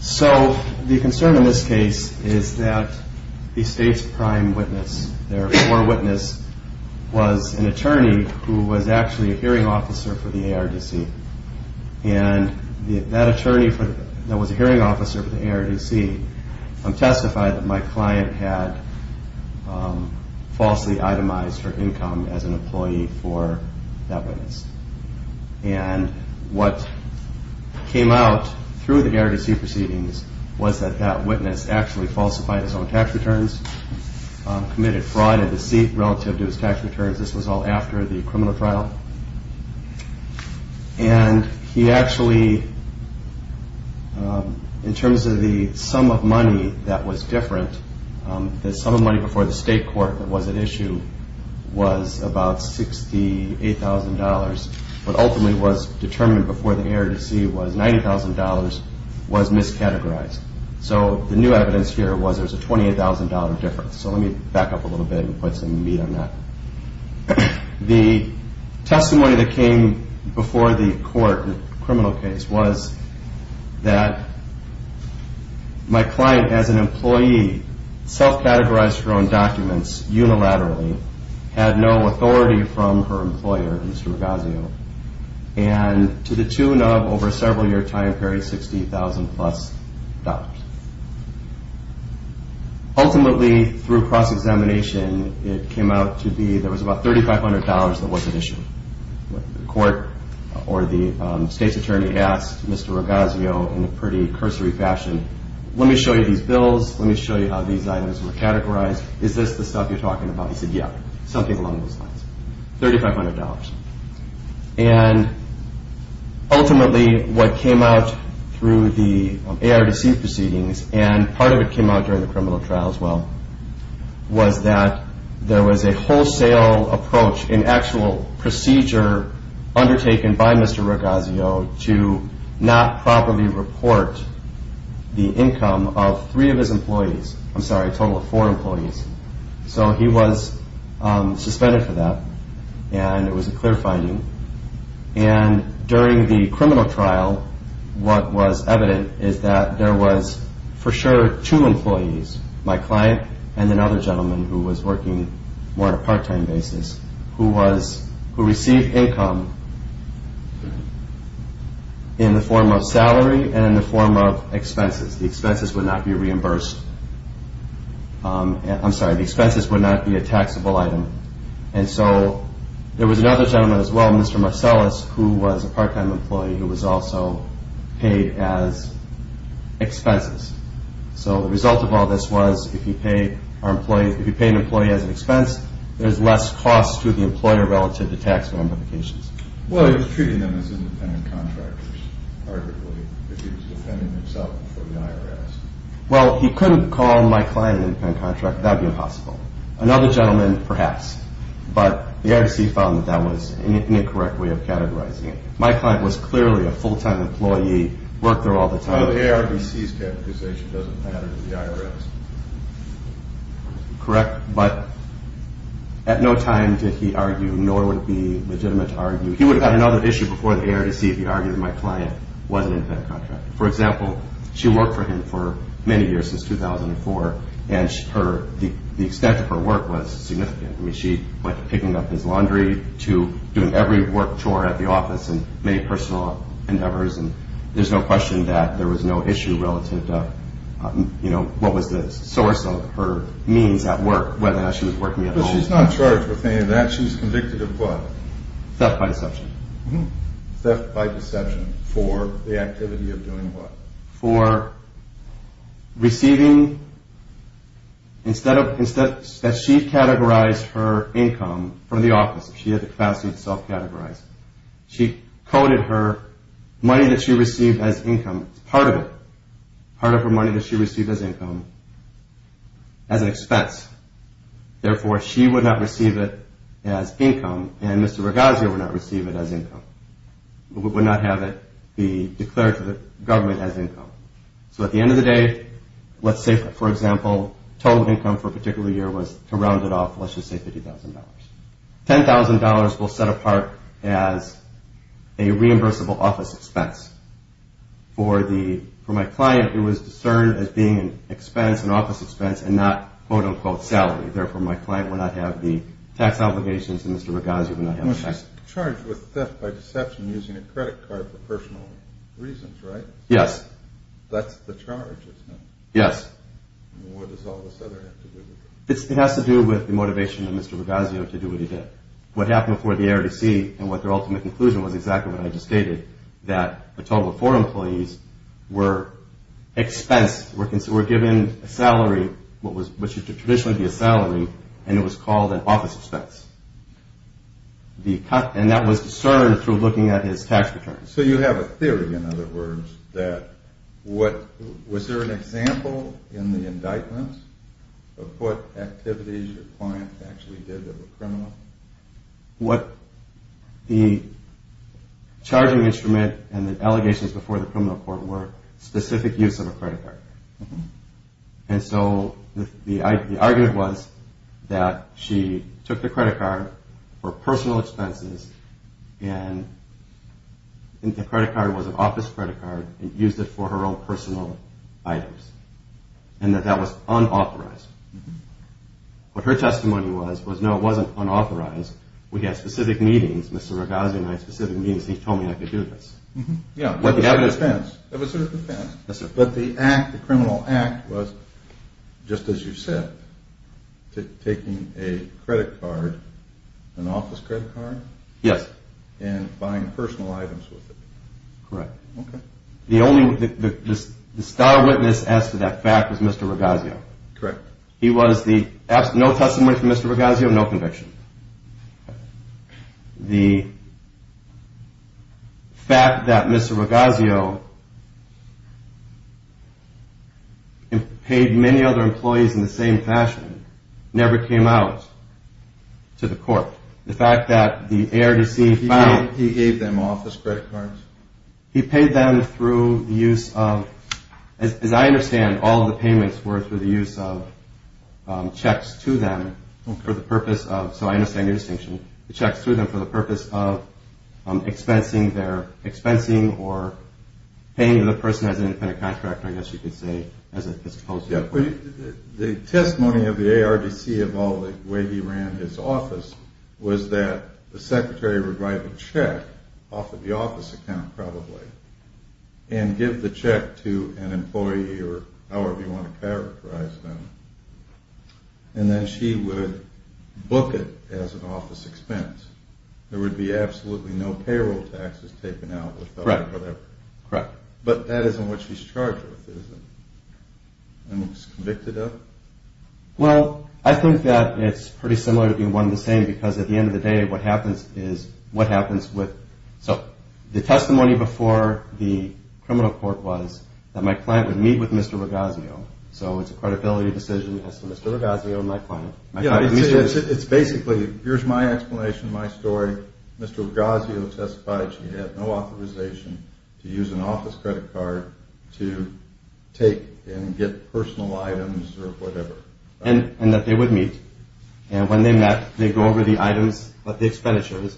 So the concern in this case is that the state's prime witness, their forewitness, was an attorney who was actually a hearing officer for the ARDC and that attorney that was a hearing officer for the ARDC testified that my client had falsely itemized her income as an employee for that witness. And what came out through the ARDC proceedings was that that witness actually falsified his own tax returns, committed fraud and deceit relative to his tax returns. This was all after the criminal trial. And he actually, in terms of the sum of money that was different, the sum of money before the state court that was at issue was about $68,000, but ultimately was determined before the ARDC was $90,000 was miscategorized. So the new evidence here was there was a $28,000 difference. So let me back up a little bit and put some meat on that. The testimony that came before the court, the criminal case, was that my client as an employee self-categorized her own documents unilaterally, had no authority from her employer, Mr. Rogazio, and to the tune of over a several year time period, $60,000 plus. Ultimately, through cross-examination, it came out to be there was about $3,500 that wasn't issued. The court or the state's attorney asked Mr. Rogazio in a pretty cursory fashion, let me show you these bills, let me show you how these items were categorized, is this the stuff you're talking about? He said, yeah, something along those lines. $3,500. And ultimately, what came out through the ARDC proceedings, and part of it came out during the criminal trial as well, was that there was a wholesale approach, an actual procedure undertaken by Mr. Rogazio to not properly report the income of three of his employees. I'm sorry, a total of four employees. So he was suspended for that, and it was a clear finding. And during the criminal trial, what was evident is that there was for sure two employees, my client and another gentleman who was working more on a part-time basis, who received income in the form of salary and in the form of expenses. The expenses would not be reimbursed. I'm sorry, the expenses would not be a taxable item. And so there was another gentleman as well, Mr. Marcellus, who was a part-time employee who was also paid as expenses. So the result of all this was, if you pay an employee as an expense, there's less cost to the employer relative to tax ramifications. Well, he was treating them as independent contractors, arguably, but he was defending himself for the IRS. Well, he couldn't call my client an independent contractor. That would be impossible. Another gentleman, perhaps, but the ARDC found that that was an incorrect way of categorizing it. My client was clearly a full-time employee, worked there all the time. Well, the ARDC's categorization doesn't matter to the IRS. Correct, but at no time did he argue, nor would it be legitimate to argue. He would have had another issue before the ARDC if he argued that my client was an independent contractor. For example, she worked for him for many years, since 2004, and the extent of her work was significant. I mean, she went from picking up his laundry to doing every work chore at the office and many personal endeavors. And there's no question that there was no issue relative to, you know, what was the source of her means at work, whether or not she was working at all. But she's not charged with any of that. She's convicted of what? Theft by deception. Theft by deception for the activity of doing what? For receiving, instead of, that she categorized her income from the office, she had the capacity to self-categorize. She coded her money that she received as income, part of it, part of her money that she received as income, as an expense. Therefore, she would not receive it as income, and Mr. Ragazio would not receive it as income. Would not have it be declared to the government as income. So at the end of the day, let's say, for example, total income for a particular year was, to round it off, let's just say $50,000. $10,000 will set apart as a reimbursable office expense. For my client, it was discerned as being an expense, an office expense, and not, quote-unquote, salary. Therefore, my client would not have the tax obligations, and Mr. Ragazio would not have the tax. She's charged with theft by deception using a credit card for personal reasons, right? Yes. That's the charge, isn't it? Yes. What does all this other have to do with it? It has to do with the motivation of Mr. Ragazio to do what he did. What happened before the ARDC and what their ultimate conclusion was exactly what I just stated, that a total of four employees were given a salary, what should traditionally be a salary, and it was called an office expense. And that was discerned through looking at his tax returns. So you have a theory, in other words, that what – was there an example in the indictments of what activities your client actually did that were criminal? What the charging instrument and the allegations before the criminal court were specific use of a credit card. And so the argument was that she took the credit card for personal expenses and the credit card was an office credit card and used it for her own personal items and that that was unauthorized. What her testimony was, was no, it wasn't unauthorized. We had specific meetings, Mr. Ragazio and I had specific meetings. He told me I could do this. It was a defense. But the act, the criminal act was, just as you said, taking a credit card, an office credit card? Yes. And buying personal items with it. Correct. Okay. The only – the star witness as to that fact was Mr. Ragazio. Correct. He was the – no testimony from Mr. Ragazio, no conviction. The fact that Mr. Ragazio paid many other employees in the same fashion never came out to the court. The fact that the ARDC found – He gave them office credit cards. He paid them through the use of – as I understand, all of the payments were through the use of checks to them for the purpose of – so I understand your distinction – the checks to them for the purpose of expensing their – expensing or paying the person as an independent contractor, I guess you could say, as opposed to – The testimony of the ARDC about the way he ran his office was that the secretary would write a check off of the office account, probably, and give the check to an employee or however you want to characterize them, and then she would book it as an office expense. There would be absolutely no payroll taxes taken out with that or whatever. Correct. But that isn't what she's charged with, is it? I mean, she's convicted of it? Well, I think that it's pretty similar to being one and the same because at the end of the day, what happens is what happens with – so the testimony before the criminal court was that my client would meet with Mr. Ragazio, so it's a credibility decision as to Mr. Ragazio and my client. Yeah, it's basically, here's my explanation, my story. Mr. Ragazio testified she had no authorization to use an office credit card to take and get personal items or whatever. And that they would meet. And when they met, they'd go over the items, the expenditures,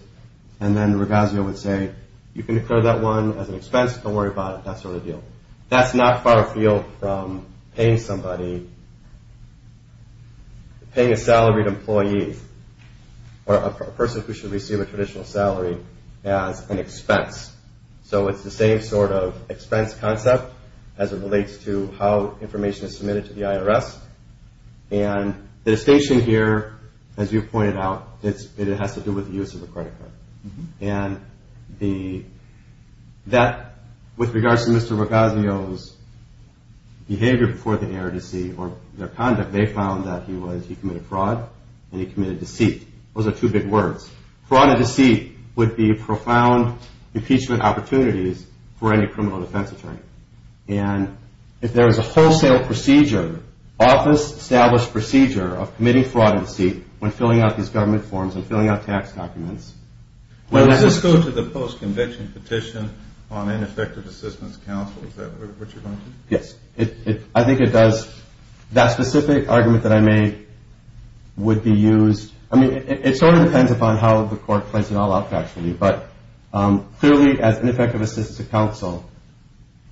and then Ragazio would say, you can declare that one as an expense, don't worry about it, that sort of deal. That's not far afield from paying somebody – paying a salaried employee or a person who should receive a traditional salary as an expense. So it's the same sort of expense concept as it relates to how information is submitted to the IRS. And the distinction here, as you pointed out, it has to do with the use of a credit card. And that, with regards to Mr. Ragazio's behavior before the ARDC or their conduct, they found that he committed fraud and he committed deceit. Those are two big words. Fraud and deceit would be profound impeachment opportunities for any criminal defense attorney. And if there is a wholesale procedure, office-established procedure of committing fraud and deceit, when filling out these government forms and filling out tax documents – Does this go to the post-conviction petition on ineffective assistance counsel, is that what you're going to do? Yes, I think it does. That specific argument that I made would be used – I mean, it sort of depends upon how the court plays it all out, actually. But clearly, as ineffective assistance counsel,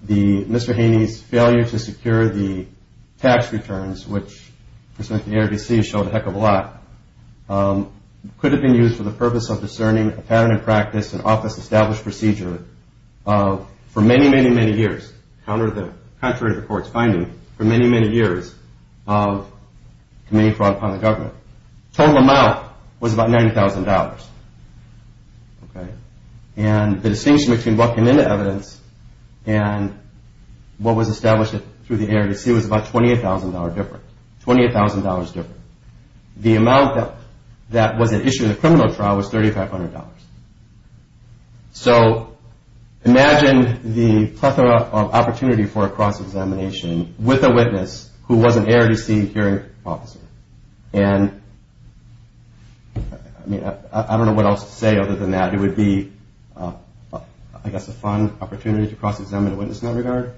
Mr. Haney's failure to secure the tax returns, which the ARDC showed a heck of a lot, could have been used for the purpose of discerning a pattern of practice and office-established procedure for many, many, many years, contrary to the court's finding, for many, many years of committing fraud upon the government. The total amount was about $90,000. And the distinction between what came into evidence and what was established through the ARDC was about $28,000 different. $28,000 different. The amount that was issued in the criminal trial was $3,500. So imagine the plethora of opportunity for a cross-examination with a witness who was an ARDC hearing officer. And I mean, I don't know what else to say other than that. It would be, I guess, a fun opportunity to cross-examine a witness in that regard.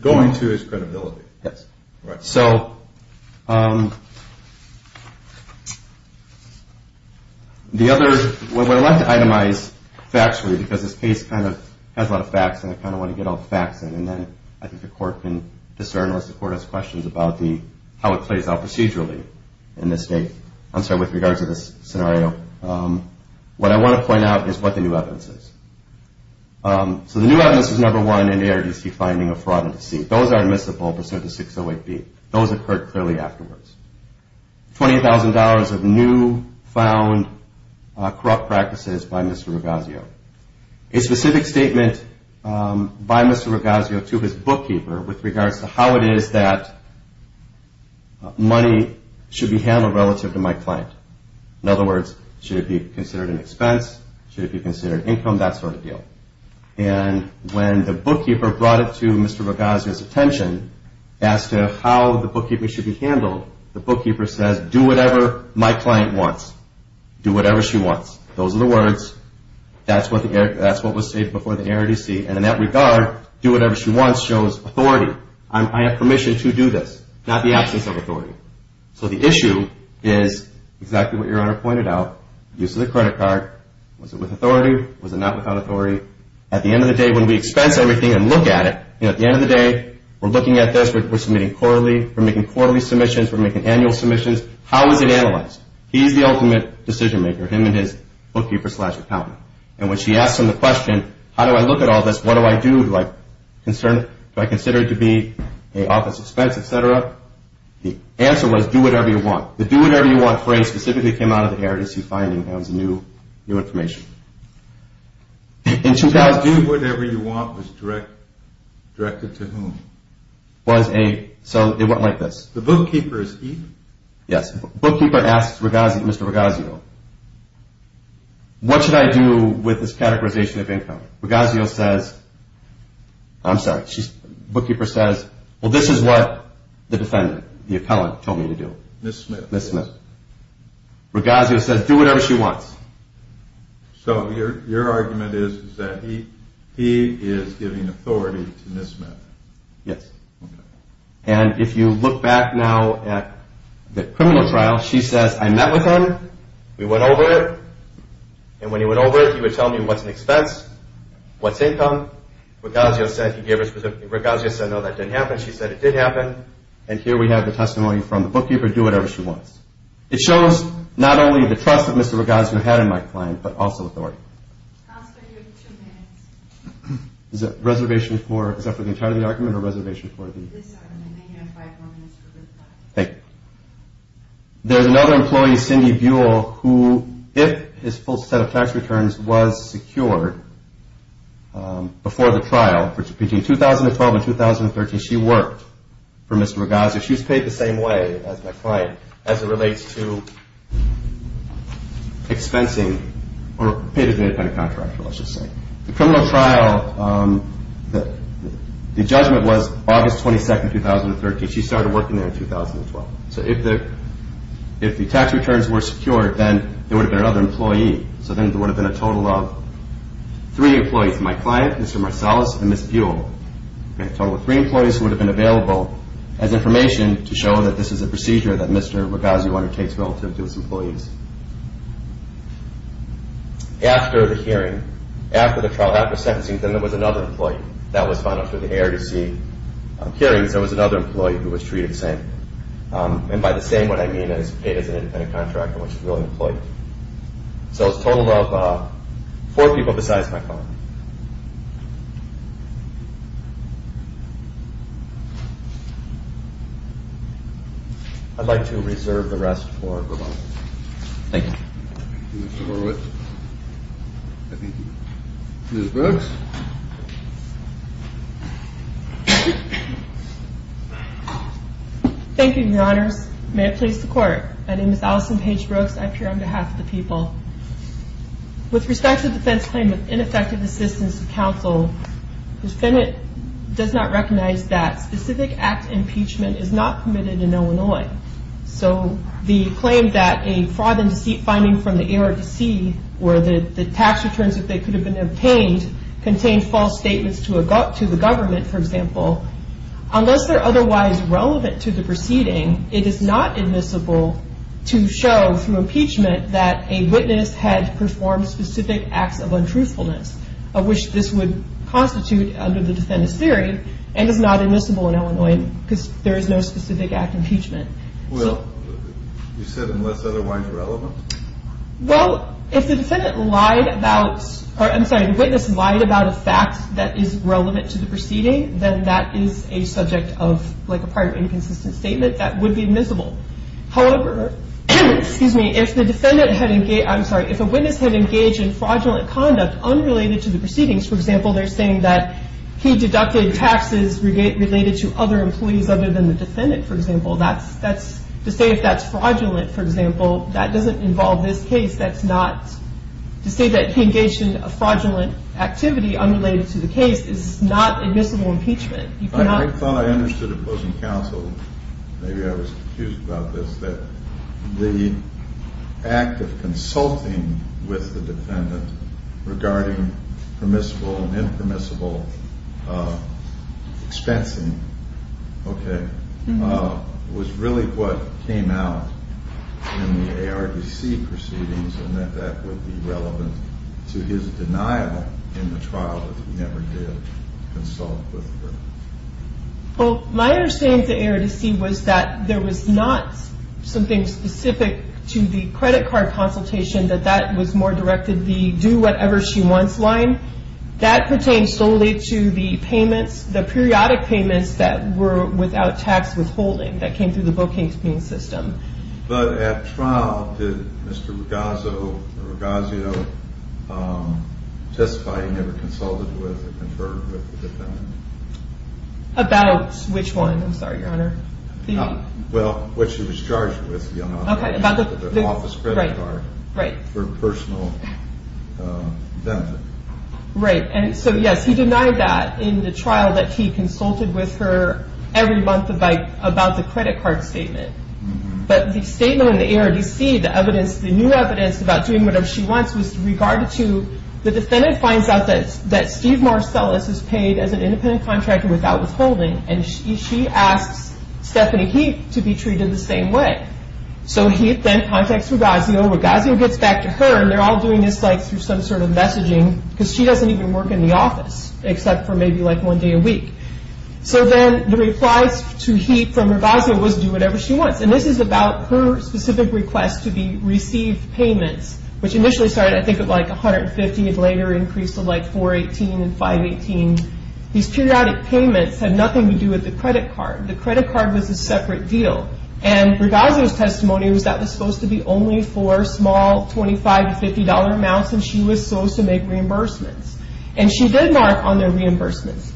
Going to his credibility. Yes. So the other, what I'd like to itemize factually, because this case kind of has a lot of facts, and I kind of want to get all the facts in, and then I think the court can discern, unless the court has questions about how it plays out procedurally in this case. I'm sorry, with regards to this scenario. What I want to point out is what the new evidence is. So the new evidence is, number one, an ARDC finding of fraud and deceit. Those are admissible pursuant to 608B. Those occurred clearly afterwards. $20,000 of new found corrupt practices by Mr. Rogazio. A specific statement by Mr. Rogazio to his bookkeeper with regards to how it is that money should be handled relative to my client. In other words, should it be considered an expense, should it be considered income, that sort of deal. And when the bookkeeper brought it to Mr. Rogazio's attention as to how the bookkeeper should be handled, the bookkeeper says, do whatever my client wants. Do whatever she wants. Those are the words. That's what was stated before the ARDC. And in that regard, do whatever she wants shows authority. I have permission to do this, not the absence of authority. So the issue is exactly what your Honor pointed out. Use of the credit card. Was it with authority? Was it not without authority? At the end of the day, when we expense everything and look at it, you know, at the end of the day, we're looking at this. We're submitting quarterly. We're making quarterly submissions. We're making annual submissions. How is it analyzed? He's the ultimate decision maker, him and his bookkeeper slash accountant. And when she asks him the question, how do I look at all this? What do I do? Do I consider it to be an office expense, et cetera? The answer was, do whatever you want. The do whatever you want phrase specifically came out of the ARDC finding. That was new information. Do whatever you want was directed to whom? So it went like this. The bookkeeper is Eve? Yes. The bookkeeper asks Mr. Ragazio, what should I do with this categorization of income? Ragazio says, I'm sorry, the bookkeeper says, well, this is what the defendant, the accountant, told me to do. Miss Smith. Miss Smith. Ragazio says, do whatever she wants. So your argument is that he is giving authority to Miss Smith. Yes. And if you look back now at the criminal trial, she says, I met with him. We went over it. And when he went over it, he would tell me what's an expense, what's income. Ragazio said, no, that didn't happen. She said, it did happen. And here we have the testimony from the bookkeeper, do whatever she wants. It shows not only the trust that Mr. Ragazio had in my client, but also authority. Counselor, you have two minutes. Is that for the entirety of the argument or reservation for the? This argument. You have five more minutes for reply. Thank you. There's another employee, Cindy Buell, who, if his full set of tax returns was secured before the trial, between 2012 and 2013, she worked for Mr. Ragazio. She was paid the same way as my client as it relates to expensing or paid as an independent contractor, let's just say. The criminal trial, the judgment was August 22, 2013. She started working there in 2012. So if the tax returns were secured, then there would have been another employee. So then there would have been a total of three employees. My client, Mr. Marsalis, and Ms. Buell. A total of three employees would have been available as information to show that this is a procedure that Mr. Ragazio undertakes relative to his employees. After the hearing, after the trial, after sentencing, then there was another employee. That was final for the ARDC hearings. There was another employee who was treated the same. And by the same, what I mean is paid as an independent contractor, which is really an employee. So a total of four people besides my client. I'd like to reserve the rest for rebuttal. Thank you. Thank you, Mr. Horwitz. Ms. Brooks? May it please the Court. My name is Allison Paige Brooks. I appear on behalf of the people. With respect to the defense claim of ineffective assistance to counsel, the defendant does not recognize that specific act impeachment is not permitted in Illinois. So the claim that a fraud and deceit finding from the ARDC, where the tax returns that they could have been obtained contained false statements to the government, for example, unless they're otherwise relevant to the proceeding, it is not admissible to show, through impeachment, that a witness had performed specific acts of untruthfulness, of which this would constitute, under the defendant's theory, and is not admissible in Illinois because there is no specific act impeachment. Well, you said unless otherwise relevant? Well, if the defendant lied about, or I'm sorry, if a witness lied about a fact that is relevant to the proceeding, then that is a subject of, like, a prior inconsistent statement that would be admissible. However, if the defendant had engaged, I'm sorry, if a witness had engaged in fraudulent conduct unrelated to the proceedings, for example, they're saying that he deducted taxes related to other employees other than the defendant, for example, to say if that's fraudulent, for example, that doesn't involve this case. That's not, to say that he engaged in a fraudulent activity unrelated to the case is not admissible impeachment. I thought I understood opposing counsel, maybe I was confused about this, that the act of consulting with the defendant regarding permissible and impermissible expensing, okay, was really what came out in the ARDC proceedings and that that would be relevant to his denial in the trial that he never did consult with her. Well, my understanding of the ARDC was that there was not something specific to the credit card consultation that that was more directed the do whatever she wants line. That pertains solely to the payments, the periodic payments that were without tax withholding that came through the booking system. But at trial, did Mr. Ragazzo testify he never consulted with or conferred with the defendant? About which one? I'm sorry, Your Honor. Well, what she was charged with, Your Honor, the office credit card for personal benefit. Right, and so yes, he denied that in the trial that he consulted with her every month about the credit card statement. But the statement in the ARDC, the new evidence about doing whatever she wants was regarded to, the defendant finds out that Steve Marcellus is paid as an independent contractor without withholding and she asks Stephanie Heath to be treated the same way. So Heath then contacts Ragazzo, Ragazzo gets back to her and they're all doing this through some sort of messaging because she doesn't even work in the office except for maybe like one day a week. So then the replies to Heath from Ragazzo was do whatever she wants and this is about her specific request to be received payments which initially started, I think, at like 150 and later increased to like 418 and 518. These periodic payments had nothing to do with the credit card. The credit card was a separate deal and Ragazzo's testimony was that it was supposed to be only for small $25 to $50 amounts and she was supposed to make reimbursements. And she did mark on their reimbursements.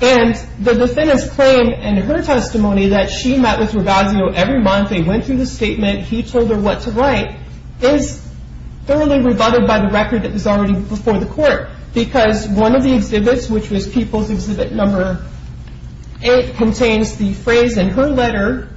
And the defendant's claim in her testimony that she met with Ragazzo every month, they went through the statement, he told her what to write is thoroughly rebutted by the record that was already before the court because one of the exhibits, which was People's Exhibit No. 8 contains the phrase in her letter,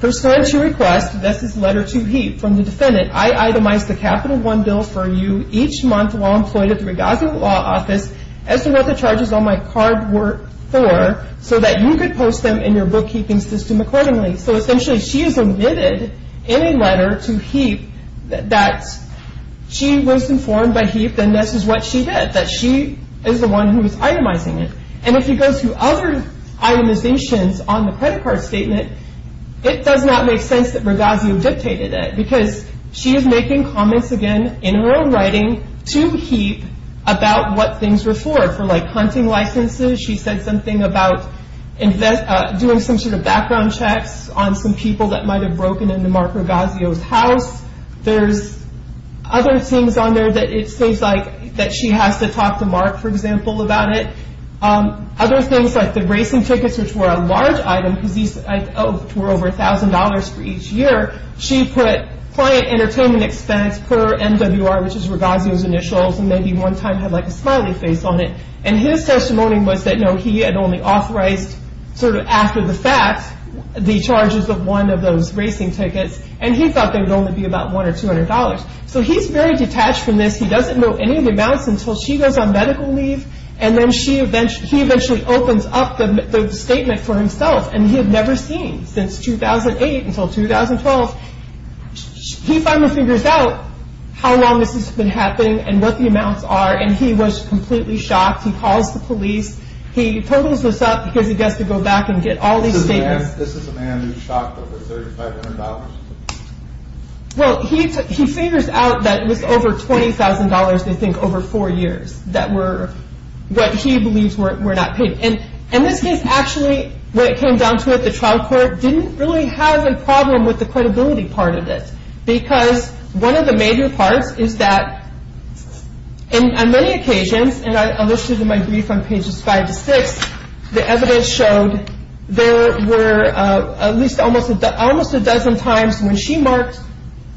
her signature request, this is letter to Heath from the defendant. I itemize the Capital One bill for you each month while employed at the Ragazzo Law Office as to what the charges on my card were for so that you could post them in your bookkeeping system accordingly. So essentially she is admitted in a letter to Heath that she was informed by Heath and this is what she did, that she is the one who is itemizing it. And if you go to other itemizations on the credit card statement, it does not make sense that Ragazzo dictated it because she is making comments again in her own writing to Heath about what things were for, for like hunting licenses. She said something about doing some sort of background checks on some people that might have broken into Mark Ragazzo's house. There's other things on there that it seems like that she has to talk to Mark, for example, about it. Other things like the racing tickets, which were a large item, which were over $1,000 for each year. She put client entertainment expense per MWR, which is Ragazzo's initials, and maybe one time had like a smiley face on it. And his testimony was that he had only authorized, sort of after the fact, the charges of one of those racing tickets and he thought they would only be about $100 or $200. So he's very detached from this. He doesn't know any of the amounts until she goes on medical leave and then he eventually opens up the statement for himself and he had never seen since 2008 until 2012. He finally figures out how long this has been happening and what the amounts are and he was completely shocked. He calls the police. He totals this up because he has to go back and get all these statements. This is a man who was shocked over $3,500? Well, he figures out that it was over $20,000, they think, over four years that were what he believes were not paid. And this case actually, when it came down to it, the trial court didn't really have a problem with the credibility part of this because one of the major parts is that on many occasions, and I listed in my brief on pages five to six, the evidence showed there were at least almost a dozen times when she marked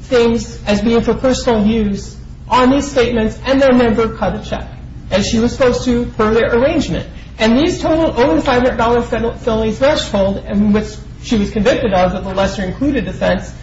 things as being for personal use on these statements and then never cut a check as she was supposed to per their arrangement. And these totaled over the $500 felony threshold in which she was convicted of the lesser included offense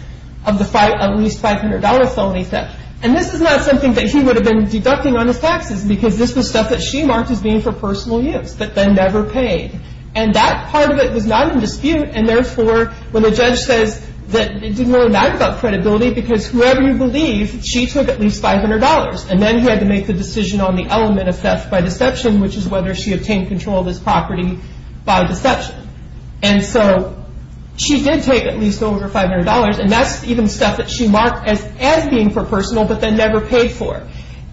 of the at least $500 felony theft. And this is not something that he would have been deducting on his taxes because this was stuff that she marked as being for personal use but then never paid. And that part of it was not in dispute and therefore when the judge says that it didn't really matter about credibility because whoever you believe, she took at least $500 and then he had to make the decision on the element of theft by deception which is whether she obtained control of this property by deception. And so she did take at least over $500 and that's even stuff that she marked as being for personal but then never paid for.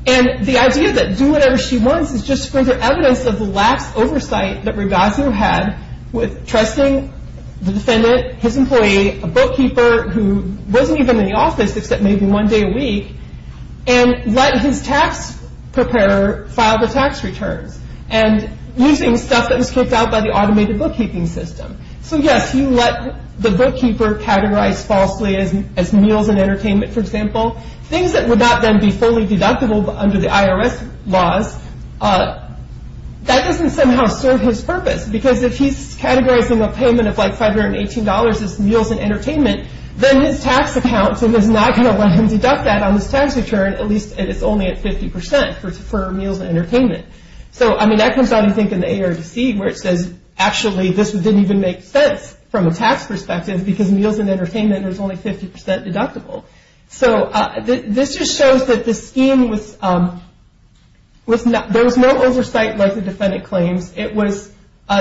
And the idea that do whatever she wants is just to bring the evidence of the lax oversight that Ragazu had with trusting the defendant, his employee, a bookkeeper who wasn't even in the office except maybe one day a week and let his tax preparer file the tax returns and using stuff that was kicked out by the automated bookkeeping system. So yes, you let the bookkeeper categorize falsely as meals and entertainment for example things that would not then be fully deductible under the IRS laws that doesn't somehow serve his purpose because if he's categorizing a payment of like $518 as meals and entertainment then his tax account is not going to let him deduct that on his tax return at least if it's only at 50% for meals and entertainment. So that comes out I think in the ARDC where it says actually this didn't even make sense from a tax perspective because meals and entertainment is only 50% deductible. So this just shows that the scheme was there was no oversight like the defendant claims. The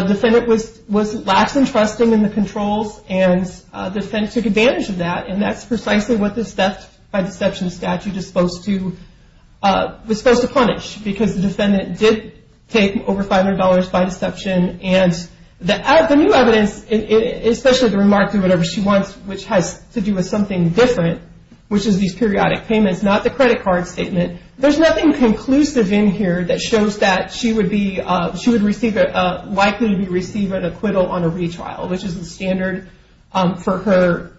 defendant was lax in trusting in the controls and the defendant took advantage of that and that's precisely what this theft by deception statute was supposed to punish because the defendant did take over $500 by deception and the new evidence, especially the remark to whatever she wants which has to do with something different which is these periodic payments, not the credit card statement there's nothing conclusive in here that shows that she would be likely to receive an acquittal on a retrial which is the standard for her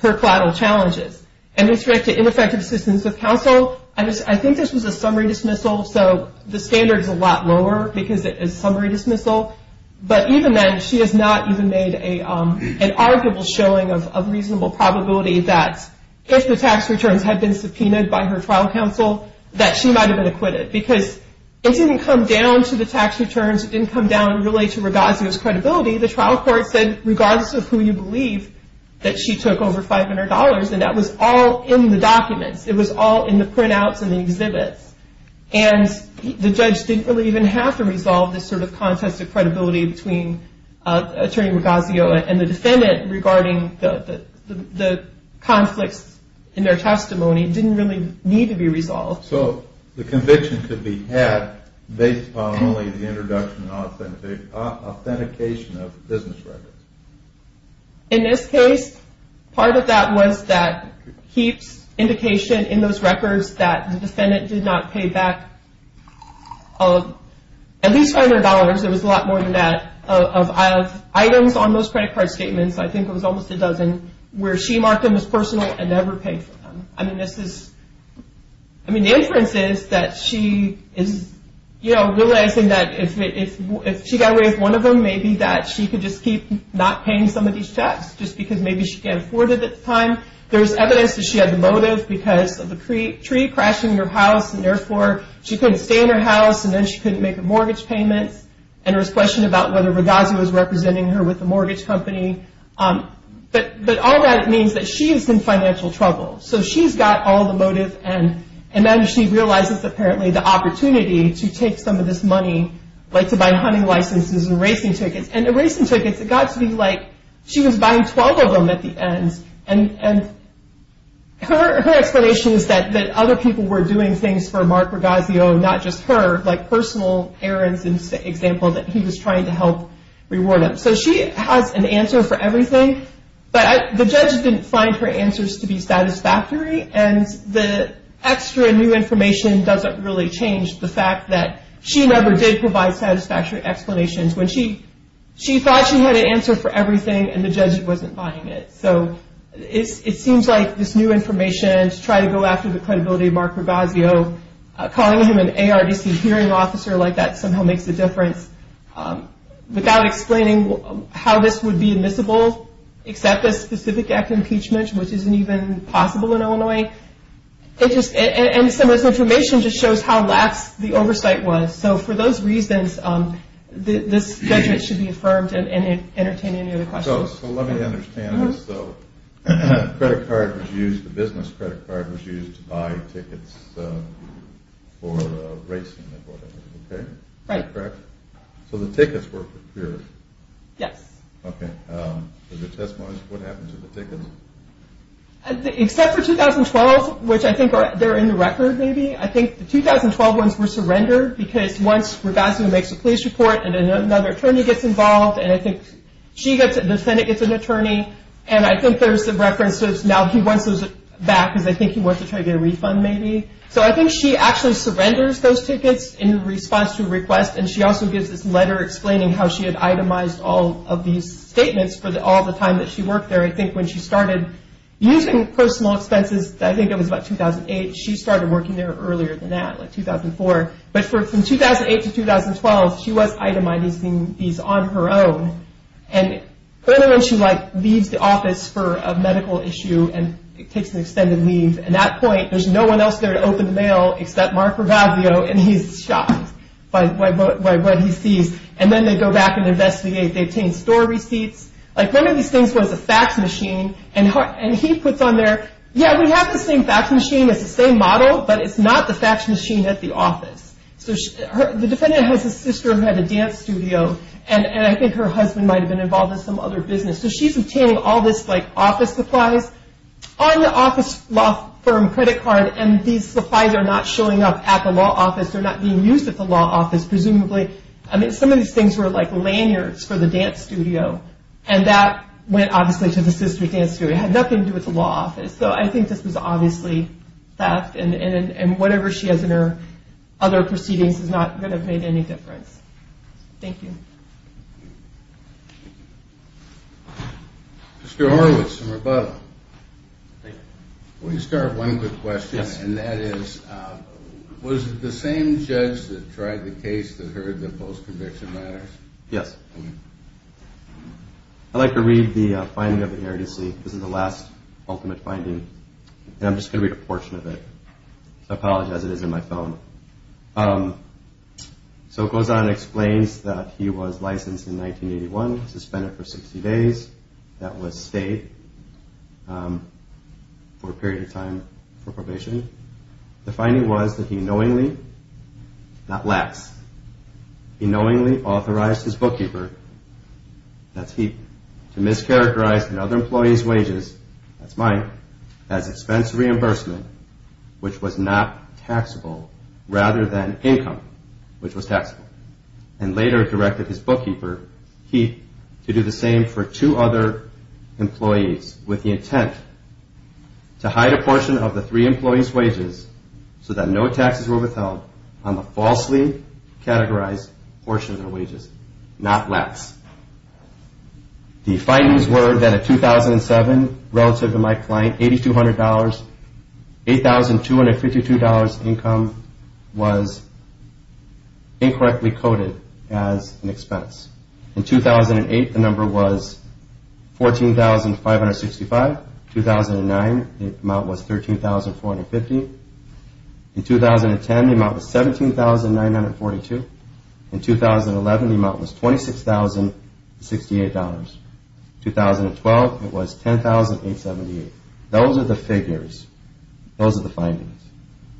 collateral challenges. And with respect to ineffective assistance of counsel I think this was a summary dismissal so the standard is a lot lower because it is a summary dismissal but even then she has not even made an arguable showing of reasonable probability that if the tax returns had been subpoenaed by her trial counsel that she might have been acquitted because it didn't come down to the tax returns it didn't come down really to Ragazio's credibility the trial court said regardless of who you believe that she took over $500 and that was all in the documents it was all in the printouts and the exhibits and the judge didn't really even have to resolve this sort of contested credibility between Attorney Ragazio and the defendant regarding the conflicts in their testimony it didn't really need to be resolved. So the conviction could be had based on only the introduction and authentication of business records. In this case, part of that was that keeps indication in those records that the defendant did not pay back at least $500, it was a lot more than that of items on those credit card statements I think it was almost a dozen where she marked them as personal and never paid for them. The inference is that she is realizing that if she got away with one of them maybe that she could just keep not paying some of these checks just because maybe she can't afford it at the time there's evidence that she had the motive because of a tree crashing in her house and therefore she couldn't stay in her house and then she couldn't make her mortgage payments and there was question about whether Ragazio was representing her with the mortgage company but all that means that she is in financial trouble so she's got all the motive and then she realizes apparently the opportunity to take some of this money like to buy hunting licenses and racing tickets and the racing tickets, it got to be like she was buying 12 of them at the end and her explanation is that other people were doing things for Mark Ragazio not just her, like personal errands is the example that he was trying to help reward him so she has an answer for everything but the judge didn't find her answers to be satisfactory and the extra new information doesn't really change the fact that she never did provide satisfactory explanations when she thought she had an answer for everything and the judge wasn't buying it so it seems like this new information to try to go after the credibility of Mark Ragazio calling him an ARDC hearing officer like that somehow makes a difference without explaining how this would be admissible except a specific act of impeachment which isn't even possible in Illinois and some of this information just shows how lax the oversight was so for those reasons this judgment should be affirmed and entertain any other questions so let me understand this the business credit card was used to buy tickets for racing, is that correct? so the tickets were procured yes okay, so the testimonies, what happened to the tickets? except for 2012 which I think they're in the record maybe I think the 2012 ones were surrendered because once Ragazio makes a police report and another attorney gets involved and I think she gets, the defendant gets an attorney and I think there's some references now he wants those back because I think he wants to try to get a refund maybe so I think she actually surrenders those tickets in response to a request and she also gives this letter explaining how she had itemized all of these statements for all the time that she worked there I think when she started using personal expenses I think it was about 2008 she started working there earlier than that like 2004 but from 2008 to 2012 she was itemizing these on her own and then when she leaves the office and takes an extended leave and at that point there's no one else there to open the mail except Mark Ragazio and he's shocked by what he sees and then they go back and investigate they obtain store receipts like one of these things was a fax machine and he puts on there yeah we have this same fax machine it's the same model but it's not the fax machine at the office so the defendant has a sister who had a dance studio and I think her husband might have been involved in some other business so she's obtaining all this office supplies on the office law firm credit card and these supplies are not showing up at the law office they're not being used at the law office presumably I mean some of these things were like lanyards for the dance studio and that went obviously to the sister's dance studio it had nothing to do with the law office so I think this was obviously theft and whatever she has in her other proceedings is not going to have made any difference thank you Mr. Horowitz in Roboto let me start with one quick question and that is was it the same judge that tried the case that heard the post-conviction matters? yes I'd like to read the finding of the heresy this is the last ultimate finding and I'm just going to read a portion of it so I apologize it is in my phone so it goes on and explains that he was licensed in 1981 suspended for 60 days that was state for a period of time for probation the finding was that he knowingly not lax he knowingly authorized his bookkeeper that's Heath to mischaracterize another employee's wages that's mine as expense reimbursement which was not taxable rather than income which was taxable and later directed his bookkeeper Heath to do the same for two other employees with the intent to hide a portion of the three employees' wages so that no taxes were withheld on the falsely categorized portion of their wages not lax the findings were that in 2007 relative to my client $8,200 $8,252 income was incorrectly coded as an expense in 2008 the number was $14,565 2009 the amount was $13,450 in 2010 the amount was $17,942 in 2011 the amount was $26,068 2012 it was $10,878 those are the figures those are the findings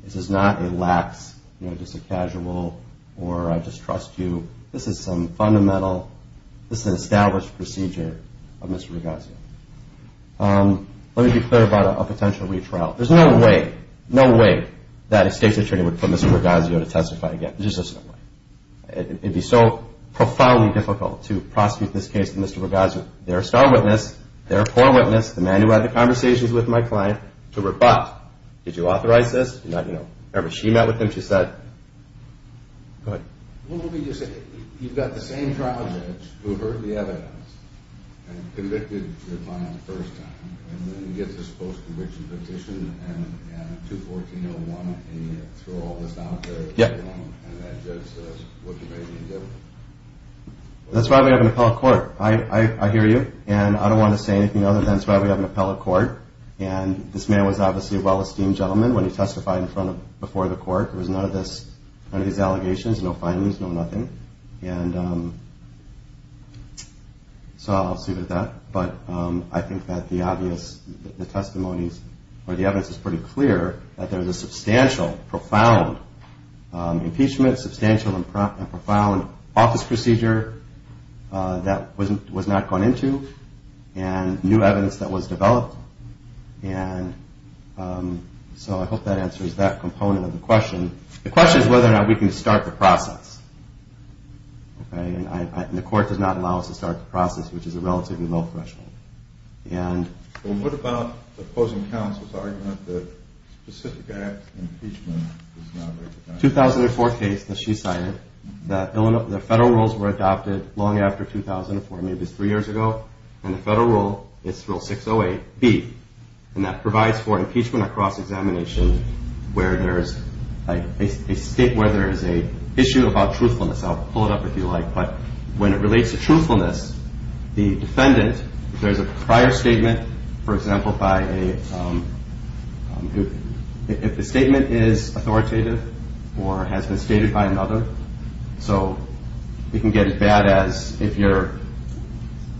this is not a lax just a casual or I just trust you this is some fundamental this is an established procedure of Mr. Rogazio let me be clear about a potential retrial there's no way no way that a state's attorney would put Mr. Rogazio to testify again there's just no way it'd be so profoundly difficult to prosecute this case to Mr. Rogazio they're a star witness they're a core witness the man who had the conversations with my client to rebut did you authorize this? remember she met with him she said go ahead what would you say you've got the same trial judge who heard the evidence and convicted your client the first time and then you get this post-conviction petition and 214.01 and you throw all this out there and that judge says what can I do? that's why we have an appellate court I hear you and I don't want to say anything other than that's why we have an appellate court and this man was obviously a well-esteemed gentleman when he testified in front of before the court there was none of this none of these allegations no findings no nothing and so I'll leave it at that but I think that the obvious the testimonies or the evidence is pretty clear that there was a substantial profound impeachment substantial and profound office procedure that was not gone into and new evidence that was developed and so I hope that answers that component of the question the question is whether or not we can start the process and the court does not allow us to start the process which is a relatively low threshold and well what about the opposing counsel's argument that specific acts of impeachment is not recognized? 2004 case that she cited that the federal rules were adopted long after 2004 maybe three years ago and the federal rule is rule 608B and that provides for impeachment across examination where there is a state where there is a issue about truthfulness I'll pull it up if you like but when it relates to truthfulness the defendant if there is a prior statement for example by a if the statement is authoritative or has been stated by another so it can get as bad as if your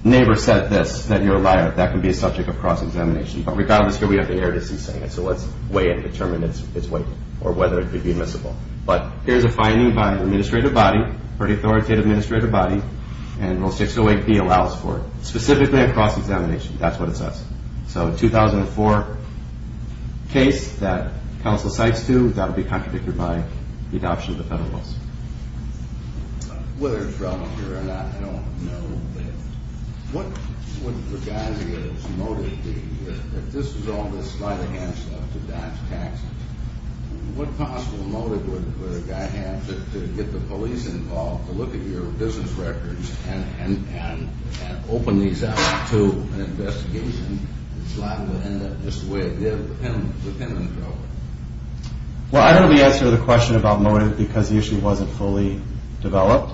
neighbor said this that you're a liar that can be a subject of cross-examination but regardless here we have the eruditcy saying it so let's weigh and determine its weight or whether it could be admissible but here's a finding by an administrative body or an authoritative administrative body and rule 608B allows for it specifically across examination that's what it says so 2004 case that counsel cites to that will be contradicted by the adoption of the federal rules whether it's relevant here or not I don't know but what would the guy's motive be if this was all a sleight of hand stuff to dodge taxes what possible motive would a guy have to get the police involved to look at your business records and open these up to an investigation and slide them in just the way it did with the Penman program well I don't really answer the question about motive because the issue wasn't fully developed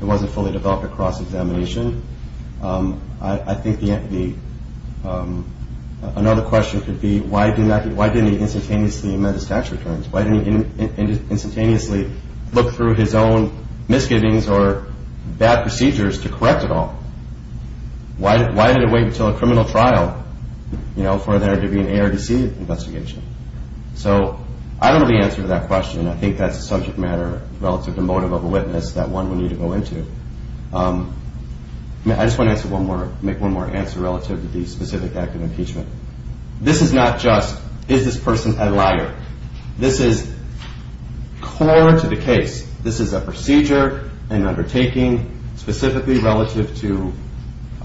it wasn't fully developed at cross-examination I think the another question could be why didn't he instantaneously amend his tax returns why didn't he instantaneously look through his own misgivings or bad procedures to correct it all why did it wait until a criminal trial for there to be an ARDC investigation so I don't really answer that question I think that's a subject matter relative to motive of a witness that one would need to go into I just want to make one more answer relative to the specific act of impeachment this is not just is this person a liar this is core to the case this is a procedure an undertaking specifically relative to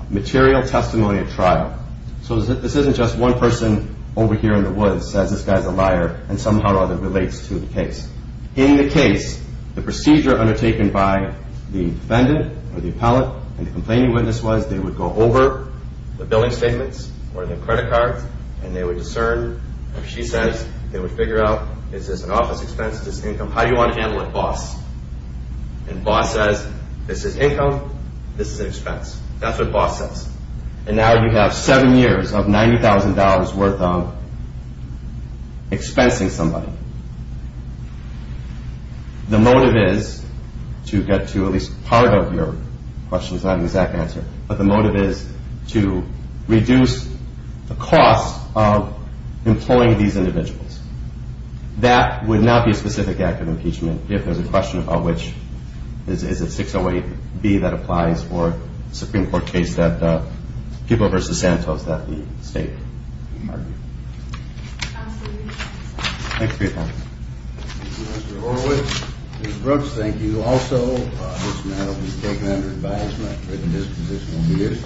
material testimony at trial so this isn't just one person over here in the woods says this guy's a liar and somehow or other relates to the case in the case the procedure undertaken by the defendant or the appellate and the complaining witness was they would go over the billing statements or the credit cards and they would discern if she says they would figure out is this an office expense is this income how do you want to handle it boss and boss says this is income this is an expense that's what boss says and now you have 7 years of $90,000 worth of expensing somebody the motive is to get to at least part of your question is not an exact answer but the motive is to reduce the cost of employing these individuals that would not be a specific act of impeachment if there's a question about which is it 608B that applies for a Supreme Court case that People v. Santos that the state argued thanks for your time Mr. Horowitz Ms. Brooks thank you also Mr. Maddox has spoken under the bias of written disposition he is